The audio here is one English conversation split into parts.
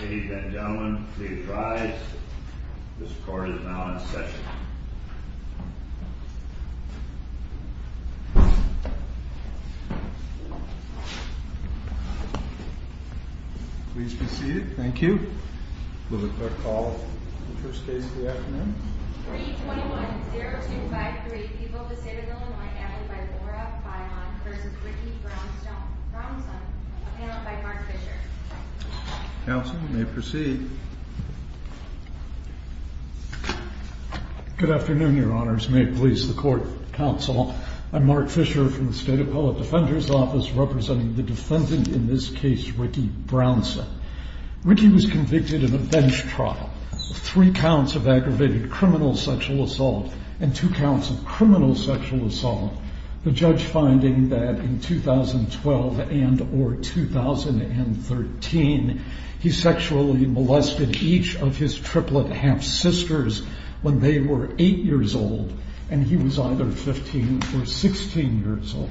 Ladies and gentlemen, please rise. This court is now in session. Please be seated. Thank you. We will now call the first case of the afternoon. 321-0253, people of the state of Illinois, handled by Laura Byron v. Ricky Brownson, paneled by Mark Fisher. Counsel, you may proceed. Good afternoon, your honors. May it please the court, counsel. I'm Mark Fisher from the State Appellate Defender's Office, representing the defendant in this case, Ricky Brownson. Ricky was convicted in a bench trial of three counts of aggravated criminal sexual assault and two counts of criminal sexual assault, the judge finding that in 2012 and or 2013, he sexually molested each of his triplet half-sisters when they were 8 years old and he was either 15 or 16 years old.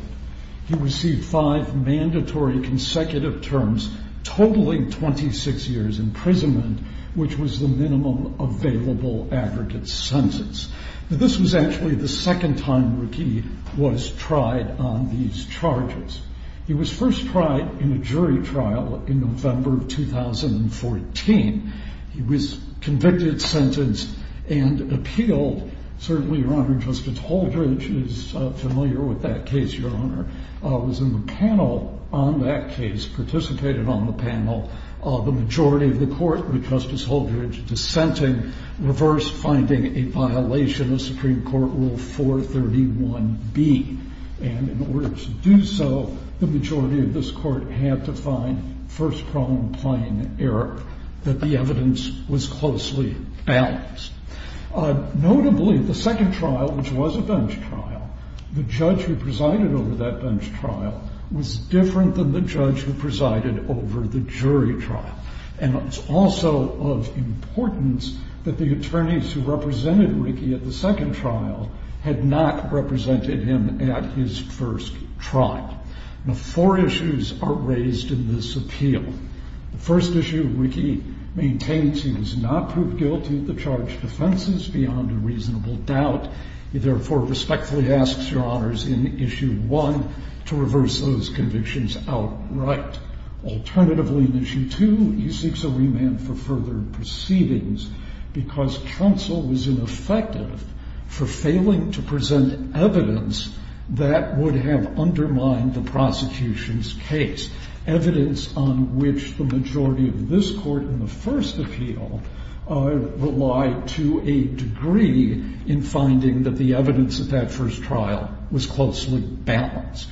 He received five mandatory consecutive terms, totaling 26 years imprisonment, which was the minimum available aggregate sentence. This was actually the second time Ricky was tried on these charges. He was first tried in a jury trial in November of 2014. He was convicted, sentenced, and appealed. Certainly, your honor, Justice Holdridge is familiar with that case, your honor. He was in the panel on that case, participated on the panel. The majority of the court, with Justice Holdridge dissenting, reversed, finding a violation of Supreme Court Rule 431B. And in order to do so, the majority of this court had to find first-prone plain error, that the evidence was closely balanced. Notably, the second trial, which was a bench trial, the judge who presided over that bench trial was different than the judge who presided over the jury trial. And it's also of importance that the attorneys who represented Ricky at the second trial had not represented him at his first trial. Now, four issues are raised in this appeal. The first issue, Ricky maintains he has not proved guilty of the charged offenses beyond a reasonable doubt. He therefore respectfully asks your honors in Issue 1 to reverse those convictions outright. Alternatively, in Issue 2, he seeks a remand for further proceedings because Trunsell was ineffective for failing to present evidence that would have undermined the prosecution's case, evidence on which the majority of this court in the first appeal relied to a degree in finding that the evidence at that first trial was closely balanced.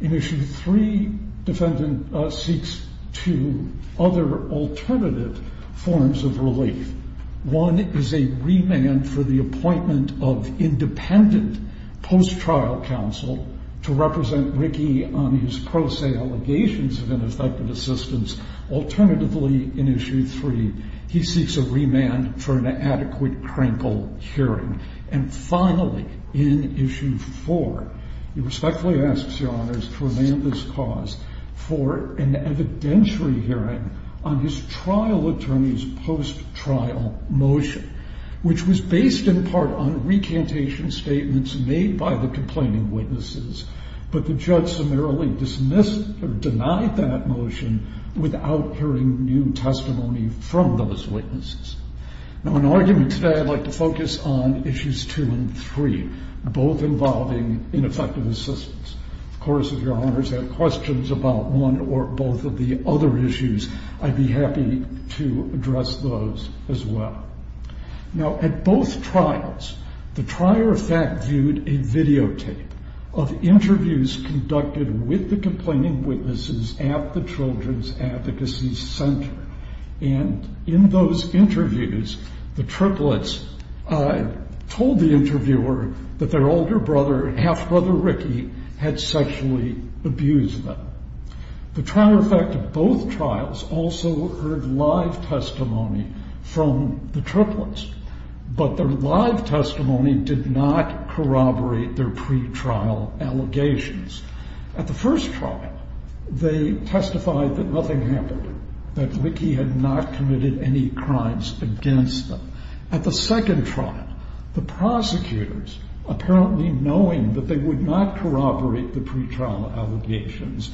In Issue 3, defendant seeks two other alternative forms of relief. One is a remand for the appointment of independent post-trial counsel to represent Ricky on his pro se allegations of ineffective assistance. Alternatively, in Issue 3, he seeks a remand for an adequate crinkle hearing. And finally, in Issue 4, he respectfully asks your honors to remand this cause for an evidentiary hearing on his trial attorney's post-trial motion, which was based in part on recantation statements made by the complaining witnesses, but the judge summarily dismissed or denied that motion without hearing new testimony from those witnesses. Now, in argument today, I'd like to focus on Issues 2 and 3, both involving ineffective assistance. Of course, if your honors have questions about one or both of the other issues, I'd be happy to address those as well. Now, at both trials, the trier of fact viewed a videotape of interviews conducted with the complaining witnesses at the Children's Advocacy Center. And in those interviews, the triplets told the interviewer that their older brother, half-brother Ricky, had sexually abused them. The trial of fact of both trials also heard live testimony from the triplets, but their live testimony did not corroborate their pretrial allegations. At the first trial, they testified that nothing happened, that Ricky had not committed any crimes against them. At the second trial, the prosecutors, apparently knowing that they would not corroborate the pretrial allegations,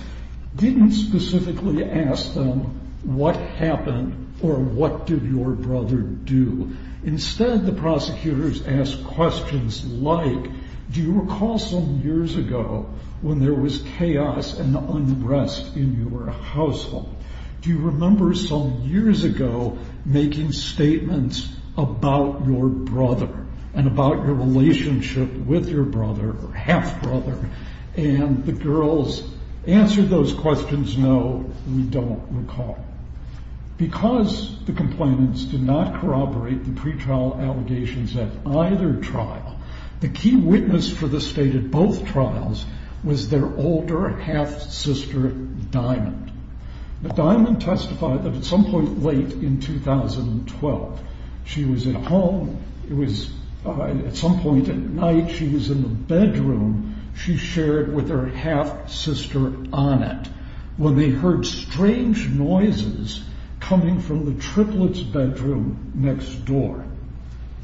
didn't specifically ask them, what happened or what did your brother do? Instead, the prosecutors asked questions like, do you recall some years ago when there was chaos and unrest in your household? Do you remember some years ago making statements about your brother and about your relationship with your brother or half-brother? And the girls answered those questions, no, we don't recall. Because the complainants did not corroborate the pretrial allegations at either trial, the key witness for the state at both trials was their older half-sister, Diamond. But Diamond testified that at some point late in 2012, she was at home. It was at some point at night. She was in the bedroom. She shared with her half-sister on it. When they heard strange noises coming from the triplet's bedroom next door,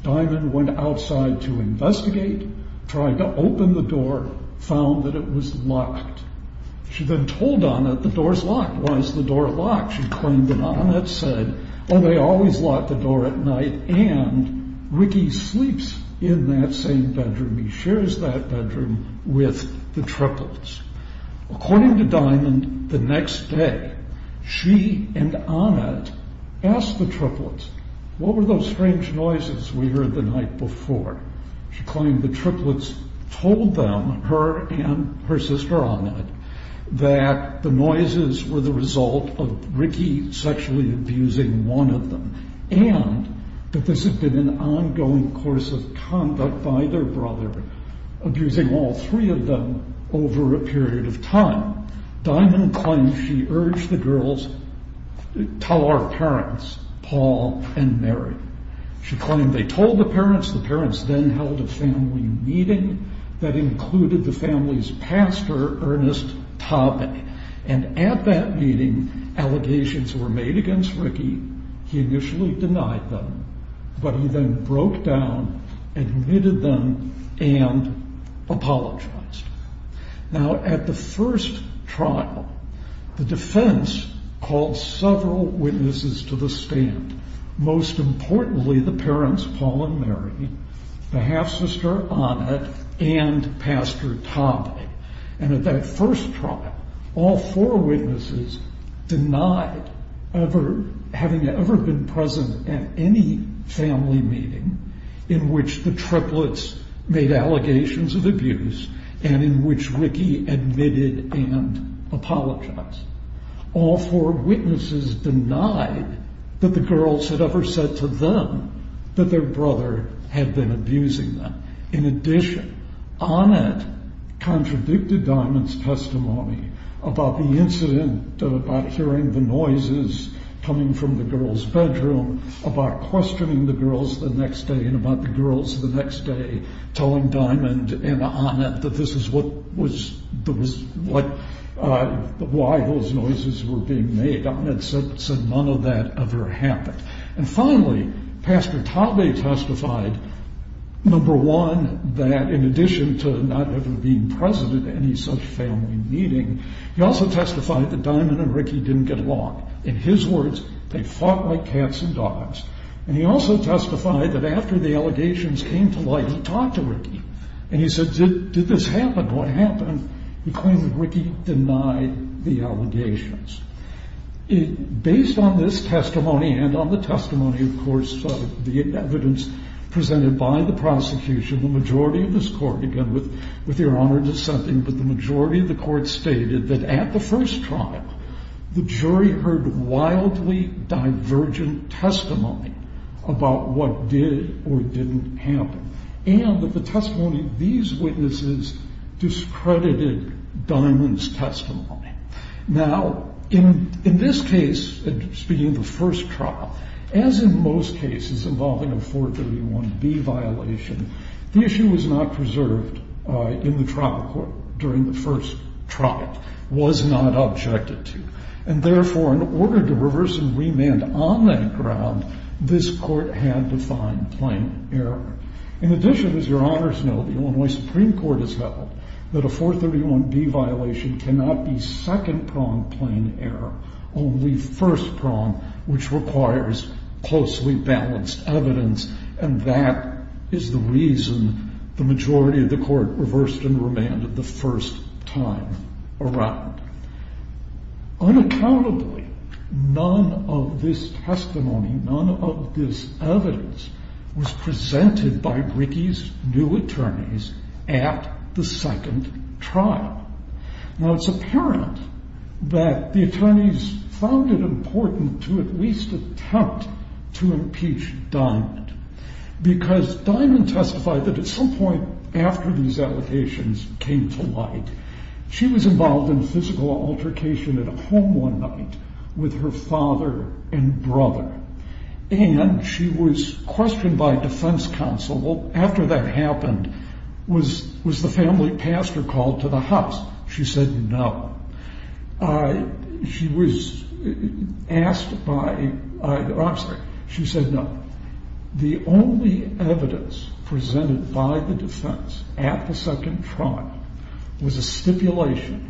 Diamond went outside to investigate, tried to open the door, found that it was locked. She then told on it, the door's locked. Why is the door locked? She claimed that on it said, oh, they always lock the door at night. And Ricky sleeps in that same bedroom. He shares that bedroom with the triplets. According to Diamond, the next day, she and on it asked the triplets, what were those strange noises we heard the night before? She claimed the triplets told them, her and her sister on it, that the noises were the result of Ricky sexually abusing one of them and that this had been an ongoing course of conduct by their brother, abusing all three of them over a period of time. Diamond claimed she urged the girls, tell our parents, Paul and Mary. She claimed they told the parents. The parents then held a family meeting that included the family's pastor, Ernest Topping, and at that meeting, allegations were made against Ricky. He initially denied them, but he then broke down, admitted them, and apologized. Now, at the first trial, the defense called several witnesses to the stand, most importantly the parents, Paul and Mary, the half-sister on it, and Pastor Topping. And at that first trial, all four witnesses denied having ever been present at any family meeting in which the triplets made allegations of abuse and in which Ricky admitted and apologized. All four witnesses denied that the girls had ever said to them that their brother had been abusing them. In addition, Annette contradicted Diamond's testimony about the incident, about hearing the noises coming from the girls' bedroom, about questioning the girls the next day and about the girls the next day, telling Diamond and Annette that this is why those noises were being made. Annette said none of that ever happened. And finally, Pastor Topping testified, number one, that in addition to not ever being present at any such family meeting, he also testified that Diamond and Ricky didn't get along. In his words, they fought like cats and dogs. And he also testified that after the allegations came to light, he talked to Ricky. And he said, did this happen? What happened? He claimed that Ricky denied the allegations. Based on this testimony and on the testimony, of course, the evidence presented by the prosecution, the majority of this court, again, with your honor dissenting, but the majority of the court stated that at the first trial, the jury heard wildly divergent testimony about what did or didn't happen. And that the testimony of these witnesses discredited Diamond's testimony. Now, in this case, speaking of the first trial, as in most cases involving a 431B violation, the issue was not preserved in the trial court during the first trial, was not objected to. And therefore, in order to reverse and remand on that ground, this court had to find plain error. In addition, as your honors know, the Illinois Supreme Court has held that a 431B violation cannot be second-pronged plain error, only first-pronged, which requires closely balanced evidence. And that is the reason the majority of the court reversed and remanded the first time around. Unaccountably, none of this testimony, none of this evidence, was presented by Ricky's new attorneys at the second trial. Now, it's apparent that the attorneys found it important to at least attempt to impeach Diamond, because Diamond testified that at some point after these allegations came to light, she was involved in physical altercation at a home one night with her father and brother. And she was questioned by defense counsel. Well, after that happened, was the family pastor called to the house? She said no. She was asked by the-I'm sorry. She said no. The only evidence presented by the defense at the second trial was a stipulation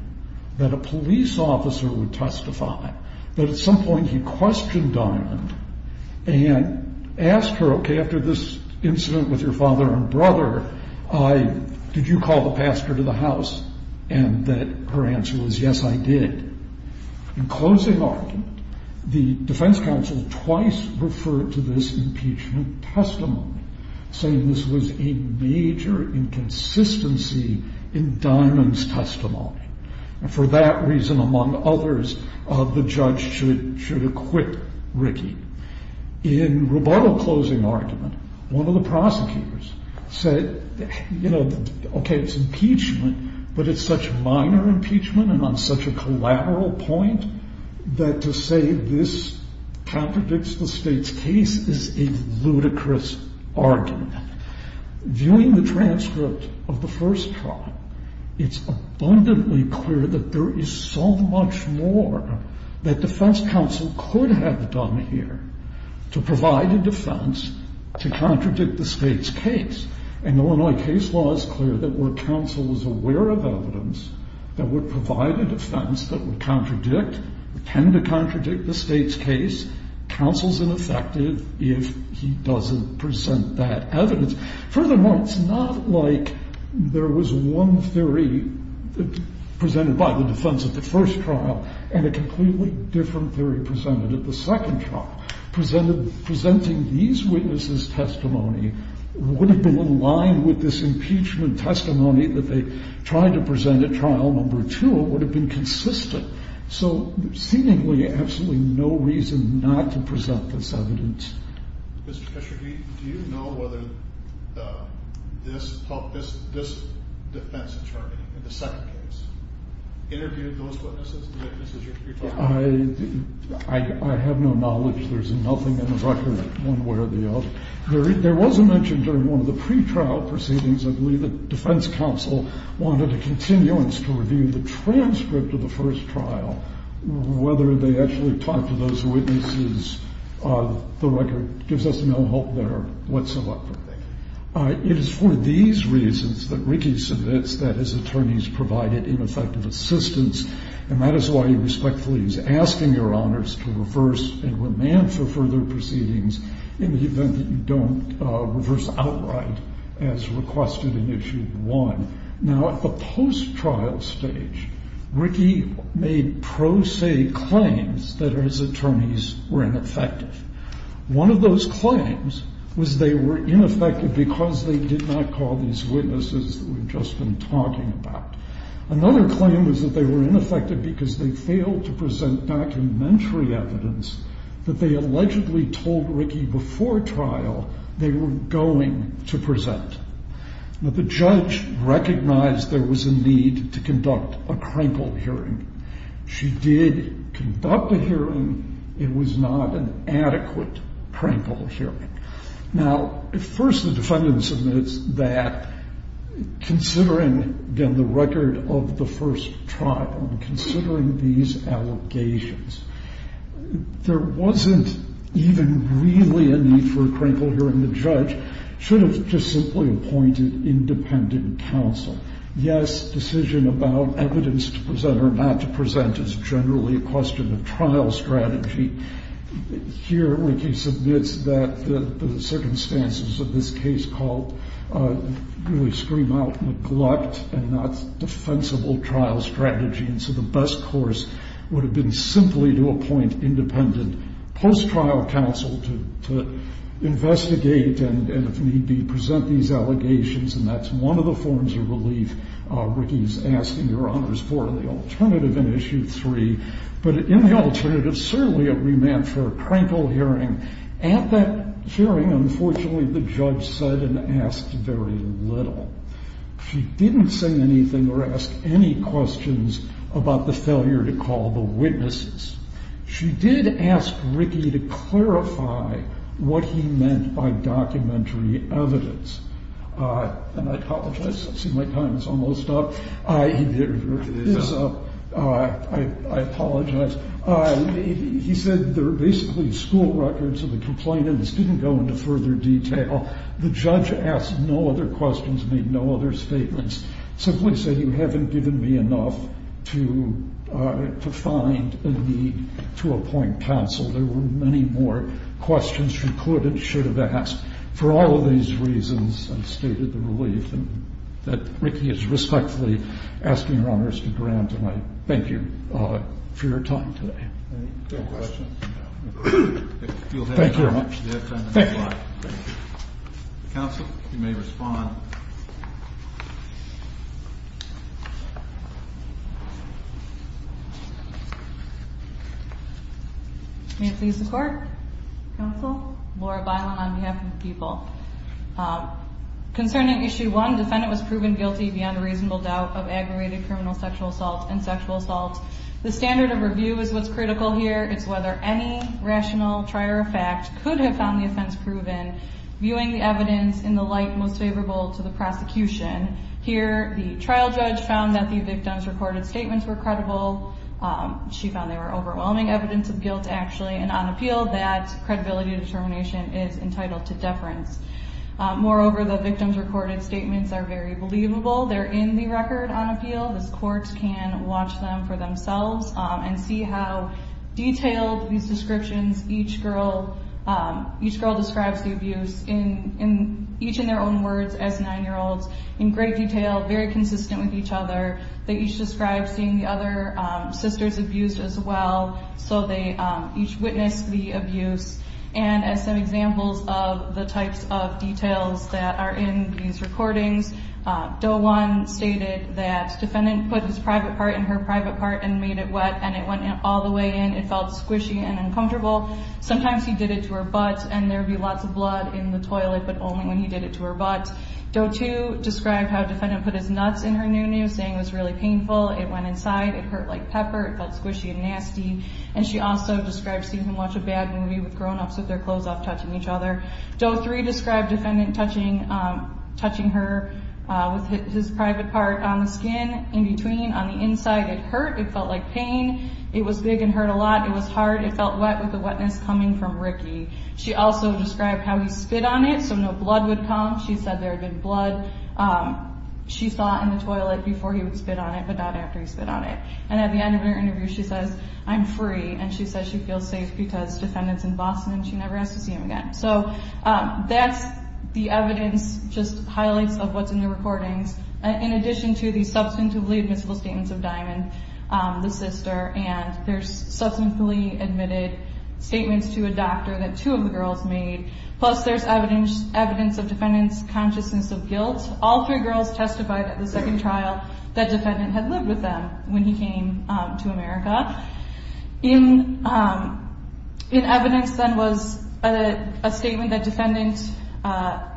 that a police officer would testify that at some point he questioned Diamond and asked her, okay, after this incident with your father and brother, did you call the pastor to the house? And that her answer was yes, I did. In closing argument, the defense counsel twice referred to this impeachment testimony, saying this was a major inconsistency in Diamond's testimony. And for that reason, among others, the judge should acquit Ricky. In rebuttal closing argument, one of the prosecutors said, you know, okay, it's impeachment, but it's such minor impeachment and on such a collateral point that to say this contradicts the state's case is a ludicrous argument. Viewing the transcript of the first trial, it's abundantly clear that there is so much more that defense counsel could have done here to provide a defense to contradict the state's case. And Illinois case law is clear that where counsel is aware of evidence that would provide a defense that would contradict, tend to contradict the state's case, counsel's ineffective if he doesn't present that evidence. Furthermore, it's not like there was one theory presented by the defense at the first trial and a completely different theory presented at the second trial. Presenting these witnesses' testimony would have been in line with this impeachment testimony that they tried to present at trial number two. It would have been consistent. So seemingly absolutely no reason not to present this evidence. Mr. Kesher, do you know whether this defense attorney in the second case interviewed those witnesses? I have no knowledge. There's nothing in the record one way or the other. There was a mention during one of the pretrial proceedings, I believe, that defense counsel wanted a continuance to review the transcript of the first trial, whether they actually talked to those witnesses The record gives us no hope there whatsoever. It is for these reasons that Rickey submits that his attorneys provided ineffective assistance, and that is why he respectfully is asking Your Honors to reverse and remand for further proceedings in the event that you don't reverse outright as requested in Issue 1. Now, at the post-trial stage, Rickey made pro se claims that his attorneys were ineffective. One of those claims was they were ineffective because they did not call these witnesses that we've just been talking about. Another claim was that they were ineffective because they failed to present documentary evidence that they allegedly told Rickey before trial they were going to present. Now, the judge recognized there was a need to conduct a crankle hearing. She did conduct a hearing. It was not an adequate crankle hearing. Now, first, the defendant submits that, considering, again, the record of the first trial and considering these allegations, there wasn't even really a need for a crankle hearing. The judge should have just simply appointed independent counsel. Yes, decision about evidence to present or not to present is generally a question of trial strategy. Here, Rickey submits that the circumstances of this case really scream out neglect and not defensible trial strategy, and so the best course would have been simply to appoint independent post-trial counsel to investigate and, if need be, present these allegations, and that's one of the forms of relief Rickey is asking Your Honors for in the alternative in Issue 3. But in the alternative, certainly it remanded for a crankle hearing. At that hearing, unfortunately, the judge said and asked very little. She didn't say anything or ask any questions about the failure to call the witnesses. She did ask Rickey to clarify what he meant by documentary evidence. And I apologize. I see my time is almost up. I apologize. He said there were basically school records and the complainants didn't go into further detail. The judge asked no other questions, made no other statements, simply said you haven't given me enough to find a need to appoint counsel. There were many more questions she could and should have asked. For all of these reasons, I've stated the relief that Rickey is respectfully asking Your Honors to grant, and I thank you for your time today. Any questions? Thank you very much. Counsel, you may respond. Thank you. May it please the Court? Counsel? Laura Bilen on behalf of the people. Concerning Issue 1, defendant was proven guilty beyond a reasonable doubt of aggravated criminal sexual assault and sexual assault. The standard of review is what's critical here. It's whether any rational trier of fact could have found the offense proven. Viewing the evidence in the light most favorable to the prosecution, here the trial judge found that the victim's recorded statements were credible. She found they were overwhelming evidence of guilt, actually, and on appeal that credibility determination is entitled to deference. Moreover, the victim's recorded statements are very believable. They're in the record on appeal. This court can watch them for themselves and see how detailed these descriptions each girl describes the abuse, each in their own words as 9-year-olds, in great detail, very consistent with each other. They each described seeing the other sisters abused as well, so they each witnessed the abuse. And as some examples of the types of details that are in these recordings, Doe 1 stated that defendant put his private part in her private part and made it wet and it went all the way in. It felt squishy and uncomfortable. Sometimes he did it to her butt, and there would be lots of blood in the toilet, but only when he did it to her butt. Doe 2 described how defendant put his nuts in her noo-noo, saying it was really painful. It went inside. It hurt like pepper. It felt squishy and nasty. And she also described seeing him watch a bad movie with grownups with their clothes off touching each other. Doe 3 described defendant touching her with his private part on the skin in between on the inside. It hurt. It felt like pain. It was big and hurt a lot. It was hard. It felt wet with the wetness coming from Ricky. She also described how he spit on it so no blood would come. She said there had been blood she saw in the toilet before he would spit on it, but not after he spit on it. And at the end of her interview she says, I'm free, and she says she feels safe because defendant's in Boston and she never has to see him again. So that's the evidence, just highlights of what's in the recordings, in addition to the substantively admissible statements of Diamond, the sister, and there's substantively admitted statements to a doctor that two of the girls made, plus there's evidence of defendant's consciousness of guilt. All three girls testified at the second trial that defendant had lived with them when he came to America. In evidence then was a statement that defendant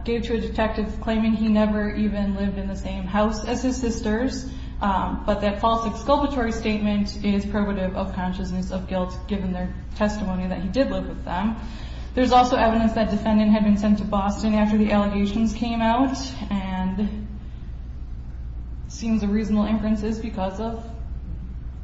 gave to a detective claiming he never even lived in the same house as his sisters, but that false exculpatory statement is probative of consciousness of guilt, given their testimony that he did live with them. There's also evidence that defendant had been sent to Boston after the allegations came out and it seems a reasonable inference is because of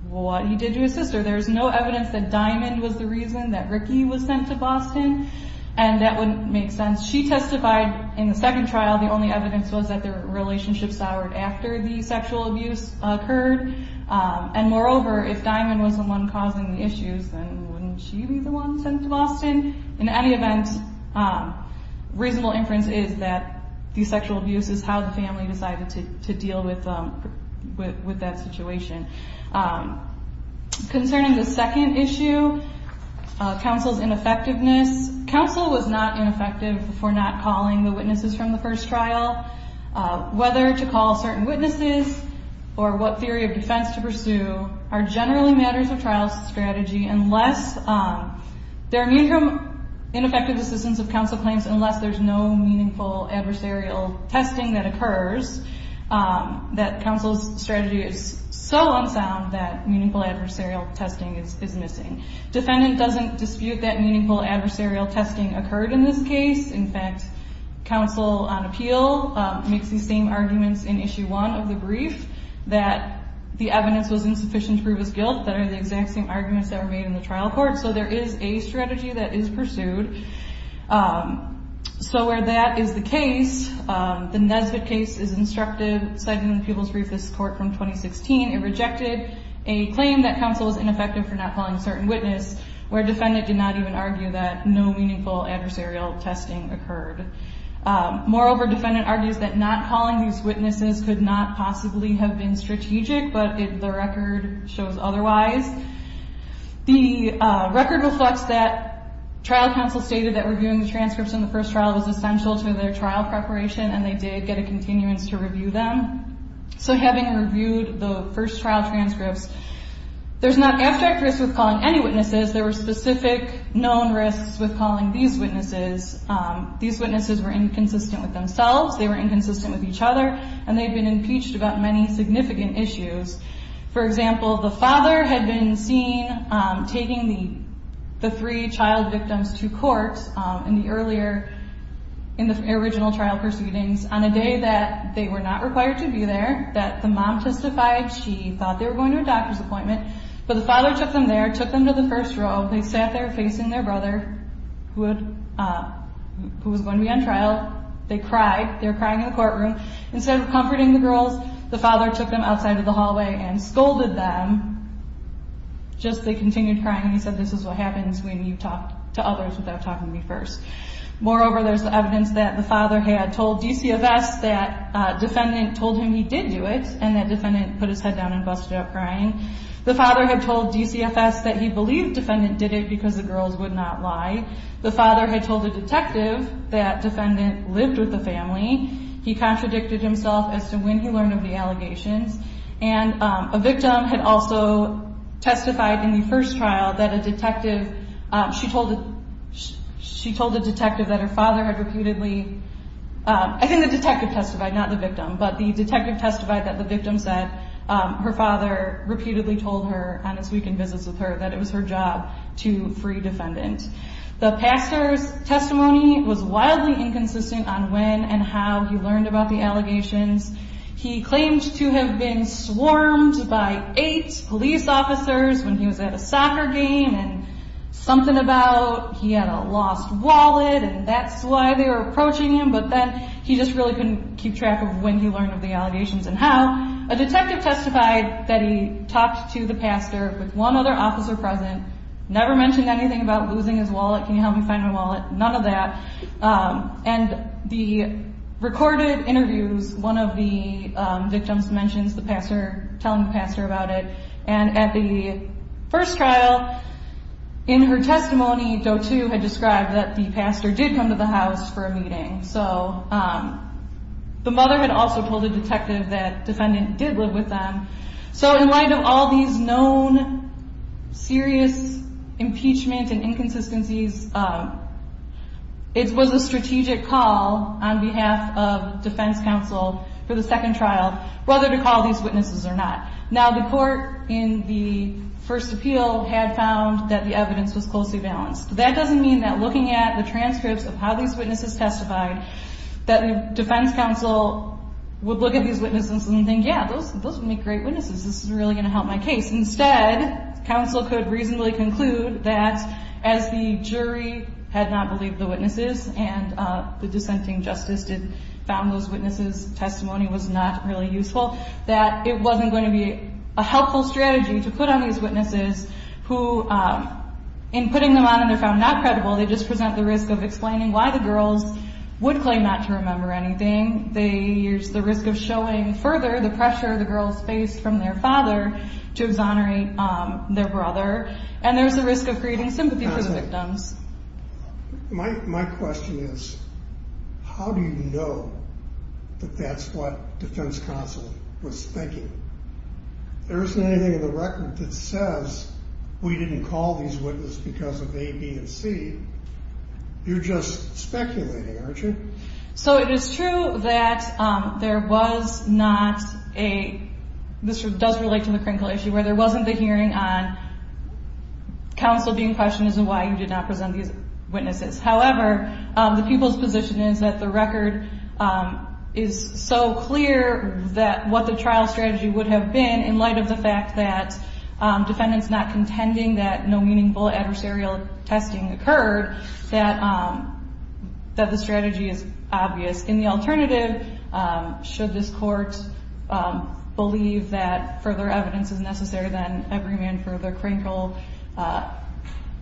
what he did to his sister. There's no evidence that Diamond was the reason that Ricky was sent to Boston, and that wouldn't make sense. She testified in the second trial, the only evidence was that their relationship soured after the sexual abuse occurred, and moreover, if Diamond was the one causing the issues, then wouldn't she be the one sent to Boston? In any event, reasonable inference is that the sexual abuse is how the family decided to deal with that situation. Concerning the second issue, counsel's ineffectiveness, counsel was not ineffective for not calling the witnesses from the first trial. Whether to call certain witnesses or what theory of defense to pursue are generally matters of trial strategy unless there are meaningful and effective assistance of counsel claims unless there's no meaningful adversarial testing that occurs, that counsel's strategy is so unsound that meaningful adversarial testing is missing. Defendant doesn't dispute that meaningful adversarial testing occurred in this case. In fact, counsel on appeal makes these same arguments in issue one of the brief that the evidence was insufficient to prove his guilt, that are the exact same arguments that were made in the trial court, so there is a strategy that is pursued. So where that is the case, the Nesbitt case is instructive, cited in the People's Briefest Court from 2016, it rejected a claim that counsel was ineffective for not calling a certain witness where defendant did not even argue that no meaningful adversarial testing occurred. Moreover, defendant argues that not calling these witnesses could not possibly have been strategic, but the record shows otherwise. The record reflects that trial counsel stated that reviewing the transcripts in the first trial was essential to their trial preparation, and they did get a continuance to review them. So having reviewed the first trial transcripts, there's not abstract risk with calling any witnesses. There were specific known risks with calling these witnesses. These witnesses were inconsistent with themselves, they were inconsistent with each other, and they had been impeached about many significant issues. For example, the father had been seen taking the three child victims to court in the original trial proceedings on a day that they were not required to be there, that the mom testified she thought they were going to a doctor's appointment, but the father took them there, took them to the first row, they sat there facing their brother, who was going to be on trial, they cried, they were crying in the courtroom, instead of comforting the girls, the father took them outside of the hallway and scolded them, just they continued crying and he said, this is what happens when you talk to others without talking to me first. Moreover, there's evidence that the father had told DCFS that defendant told him he did do it, and that defendant put his head down and busted up crying. The father had told DCFS that he believed defendant did it because the girls would not lie. The father had told a detective that defendant lived with the family. He contradicted himself as to when he learned of the allegations, and a victim had also testified in the first trial that a detective, she told a detective that her father had repeatedly, I think the detective testified, not the victim, but the detective testified that the victim said her father repeatedly told her on his weekend visits with her that it was her job to free defendant. The pastor's testimony was wildly inconsistent on when and how he learned about the allegations. He claimed to have been swarmed by eight police officers when he was at a soccer game and something about he had a lost wallet and that's why they were approaching him, but then he just really couldn't keep track of when he learned of the allegations and how. A detective testified that he talked to the pastor with one other officer present, never mentioned anything about losing his wallet, can you help me find my wallet, none of that. And the recorded interviews, one of the victims mentions the pastor, telling the pastor about it, and at the first trial in her testimony, had described that the pastor did come to the house for a meeting. So the mother had also told a detective that defendant did live with them. So in light of all these known serious impeachment and inconsistencies, it was a strategic call on behalf of defense counsel for the second trial, whether to call these witnesses or not. Now the court in the first appeal had found that the evidence was closely balanced. That doesn't mean that looking at the transcripts of how these witnesses testified, that defense counsel would look at these witnesses and think, yeah, those would make great witnesses, this is really going to help my case. Instead, counsel could reasonably conclude that as the jury had not believed the witnesses and the dissenting justice found those witnesses' testimony was not really useful, that it wasn't going to be a helpful strategy to put on these witnesses who, in putting them on and they're found not credible, they just present the risk of explaining why the girls would claim not to remember anything. There's the risk of showing further the pressure the girls faced from their father to exonerate their brother. And there's the risk of creating sympathy for the victims. My question is, how do you know that that's what defense counsel was thinking? There isn't anything in the record that says we didn't call these witnesses because of A, B, and C. You're just speculating, aren't you? So it is true that there was not a, this does relate to the crinkle issue, where there wasn't the hearing on counsel being questioned as to why you did not present these witnesses. However, the people's position is that the record is so clear that what the trial strategy would have been, in light of the fact that defendants not contending that no meaningful adversarial testing occurred, that the strategy is obvious. In the alternative, should this court believe that further evidence is necessary, then every man for the crinkle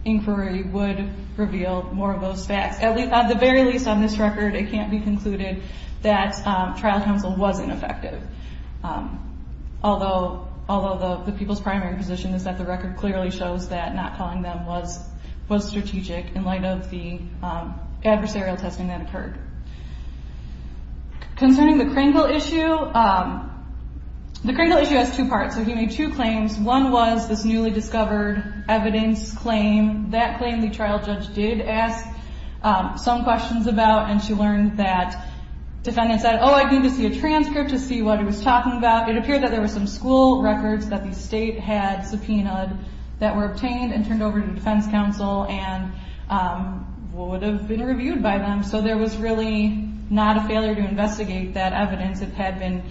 inquiry would reveal more of those facts. At the very least on this record, it can't be concluded that trial counsel wasn't effective. Although the people's primary position is that the record clearly shows that not calling them was strategic in light of the adversarial testing that occurred. Concerning the crinkle issue, the crinkle issue has two parts. So he made two claims. One was this newly discovered evidence claim. That claim the trial judge did ask some questions about, and she learned that defendants said, oh, I need to see a transcript to see what he was talking about. It appeared that there were some school records that the state had subpoenaed that were obtained and turned over to defense counsel and would have been reviewed by them. So there was really not a failure to investigate that evidence that had been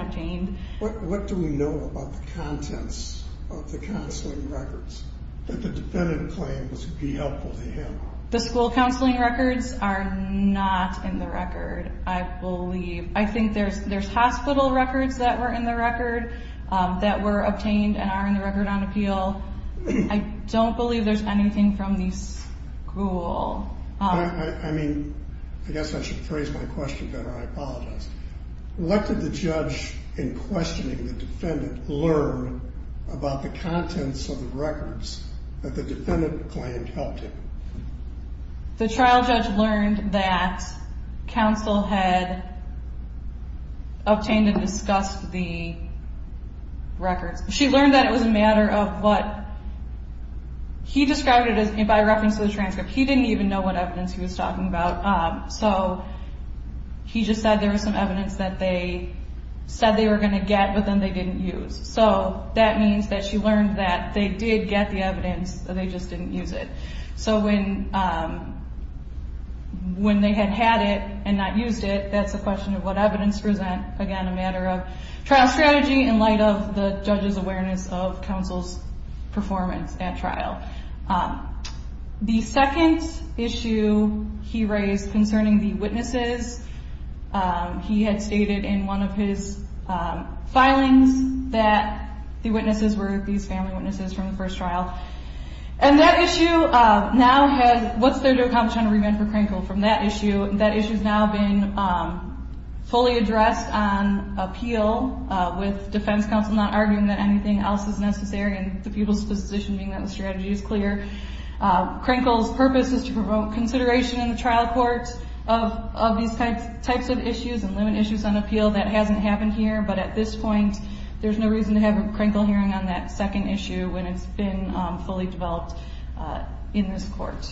obtained. What do we know about the contents of the counseling records that the defendant claimed to be helpful to him? The school counseling records are not in the record, I believe. I think there's hospital records that were in the record that were obtained and are in the record on appeal. I don't believe there's anything from the school. I mean, I guess I should phrase my question better. I apologize. What did the judge in questioning the defendant learn about the contents of the records that the defendant claimed helped him? The trial judge learned that counsel had obtained and discussed the records. She learned that it was a matter of what he described it as by reference to the transcript. He didn't even know what evidence he was talking about, so he just said there was some evidence that they said they were going to get but then they didn't use. So that means that she learned that they did get the evidence, they just didn't use it. So when they had had it and not used it, that's a question of what evidence to present. Again, a matter of trial strategy in light of the judge's awareness of counsel's performance at trial. The second issue he raised concerning the witnesses, he had stated in one of his filings that the witnesses were these family witnesses from the first trial. And that issue now has, what's there to accomplish on a remand for Krenkel from that issue? That issue's now been fully addressed on appeal with defense counsel not arguing that anything else is necessary and the people's position being that the strategy is clear. Krenkel's purpose is to promote consideration in the trial courts of these types of issues and limit issues on appeal. That hasn't happened here, but at this point, there's no reason to have a Krenkel hearing on that second issue when it's been fully developed in this court.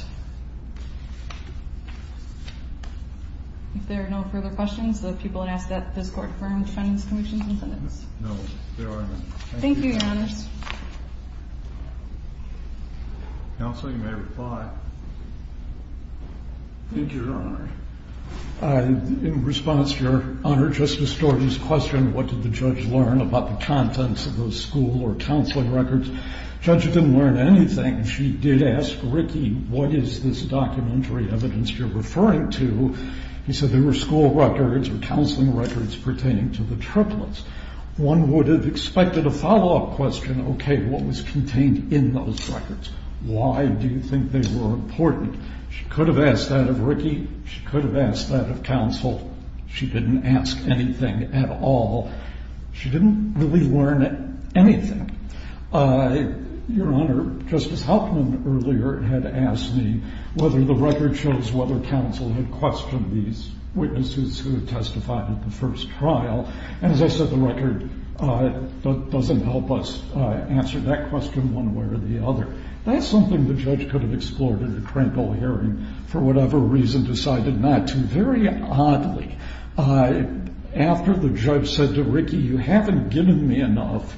If there are no further questions, the people have asked that this court confirm defendant's conviction and sentence. No, there are none. Thank you, Your Honors. Counsel, you may reply. Thank you, Your Honor. In response, Your Honor, Justice Storting's question, what did the judge learn about the contents of those school or counseling records? The judge didn't learn anything. She did ask Ricky, what is this documentary evidence you're referring to? He said there were school records or counseling records pertaining to the triplets. One would have expected a follow-up question, okay, what was contained in those records? Why do you think they were important? She could have asked that of Ricky. She could have asked that of counsel. She didn't ask anything at all. She didn't really learn anything. Your Honor, Justice Hauptman earlier had asked me whether the record shows whether counsel had questioned these witnesses who had testified at the first trial, and as I said, the record doesn't help us answer that question one way or the other. That's something the judge could have explored in the crankle hearing for whatever reason decided not to. Very oddly, after the judge said to Ricky, you haven't given me enough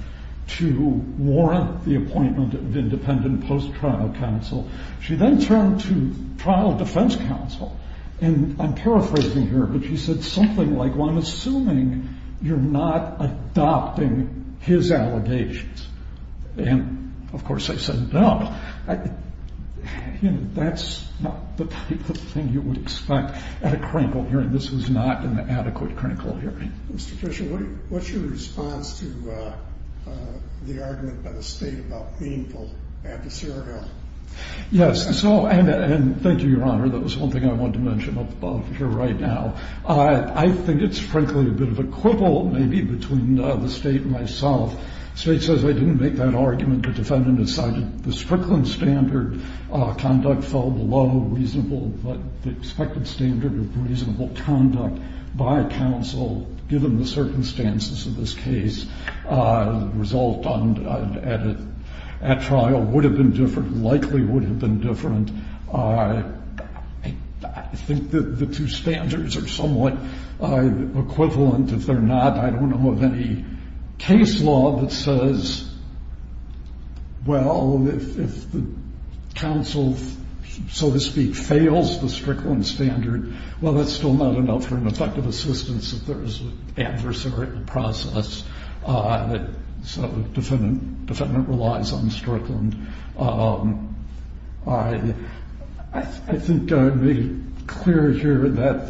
to warrant the appointment of independent post-trial counsel, she then turned to trial defense counsel, and I'm paraphrasing here, but she said something like, well, I'm assuming you're not adopting his allegations. And, of course, I said no. You know, that's not the type of thing you would expect at a crankle hearing. This was not an adequate crankle hearing. Mr. Fisher, what's your response to the argument by the State about meaningful adversarial? Yes, so, and thank you, Your Honor. That was one thing I wanted to mention above here right now. I think it's frankly a bit of a quibble maybe between the State and myself. The State says they didn't make that argument. The defendant decided the Strickland standard conduct fell below reasonable, but the expected standard of reasonable conduct by counsel, given the circumstances of this case, the result at trial would have been different, likely would have been different. I think the two standards are somewhat equivalent. If they're not, I don't know of any case law that says, well, if the counsel, so to speak, fails the Strickland standard, well, that's still not enough for an effective assistance if there is an adversarial process, so the defendant relies on Strickland. I think I made it clear here that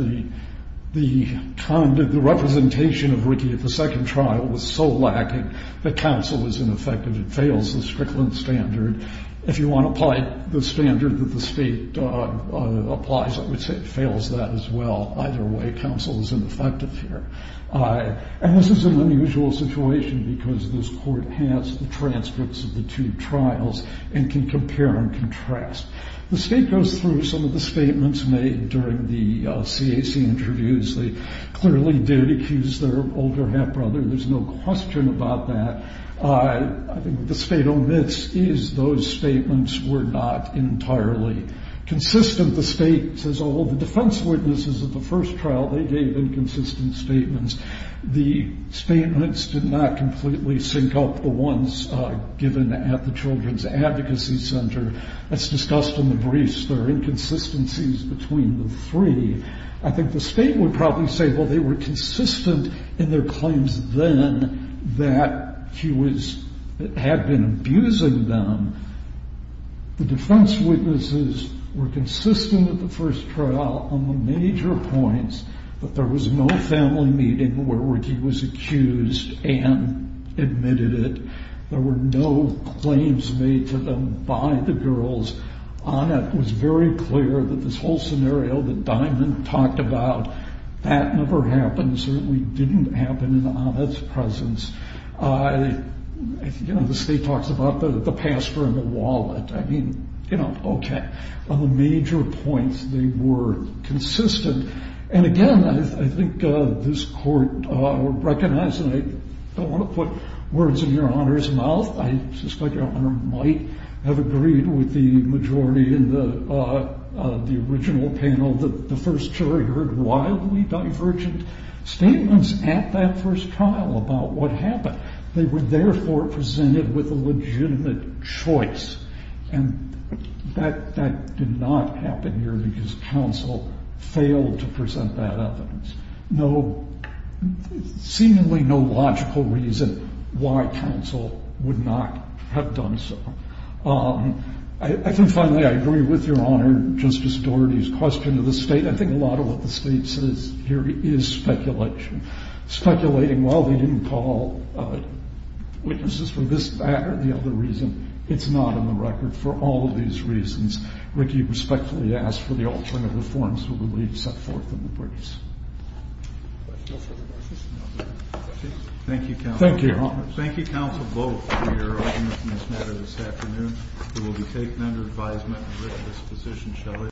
the representation of Ricky at the second trial was so lacking that counsel was ineffective. It fails the Strickland standard. If you want to apply the standard that the State applies, it fails that as well. Either way, counsel is ineffective here. And this is an unusual situation because this Court has the transcripts of the two trials and can compare and contrast. The State goes through some of the statements made during the CAC interviews. They clearly did accuse their older half-brother. There's no question about that. I think what the State omits is those statements were not entirely consistent. The State says, oh, the defense witnesses at the first trial, they gave inconsistent statements. The statements did not completely sync up the ones given at the Children's Advocacy Center. That's discussed in the briefs. There are inconsistencies between the three. I think the State would probably say, well, they were consistent in their claims then that she had been abusing them. The defense witnesses were consistent at the first trial on the major points, but there was no family meeting where Ricky was accused and admitted it. There were no claims made to them by the girls. Annette was very clear that this whole scenario that Diamond talked about, that never happened, certainly didn't happen in Annette's presence. The State talks about the pastor and the wallet. I mean, okay, on the major points they were consistent. And, again, I think this Court would recognize, and I don't want to put words in Your Honor's mouth, I suspect Your Honor might have agreed with the majority in the original panel that the first jury heard wildly divergent statements at that first trial about what happened. They were, therefore, presented with a legitimate choice. And that did not happen here because counsel failed to present that evidence. No, seemingly no logical reason why counsel would not have done so. I think, finally, I agree with Your Honor Justice Doherty's question of the State. I think a lot of what the State says here is speculation, speculating, well, they didn't call witnesses for this matter, the other reason. It's not in the record for all of these reasons. Ricky, respectfully ask for the altering of the forms that were set forth in the briefs. Thank you, counsel. Thank you, Your Honor. Thank you, counsel, both, for your arguments in this matter this afternoon. We will be taking under advisement in Rick's disposition.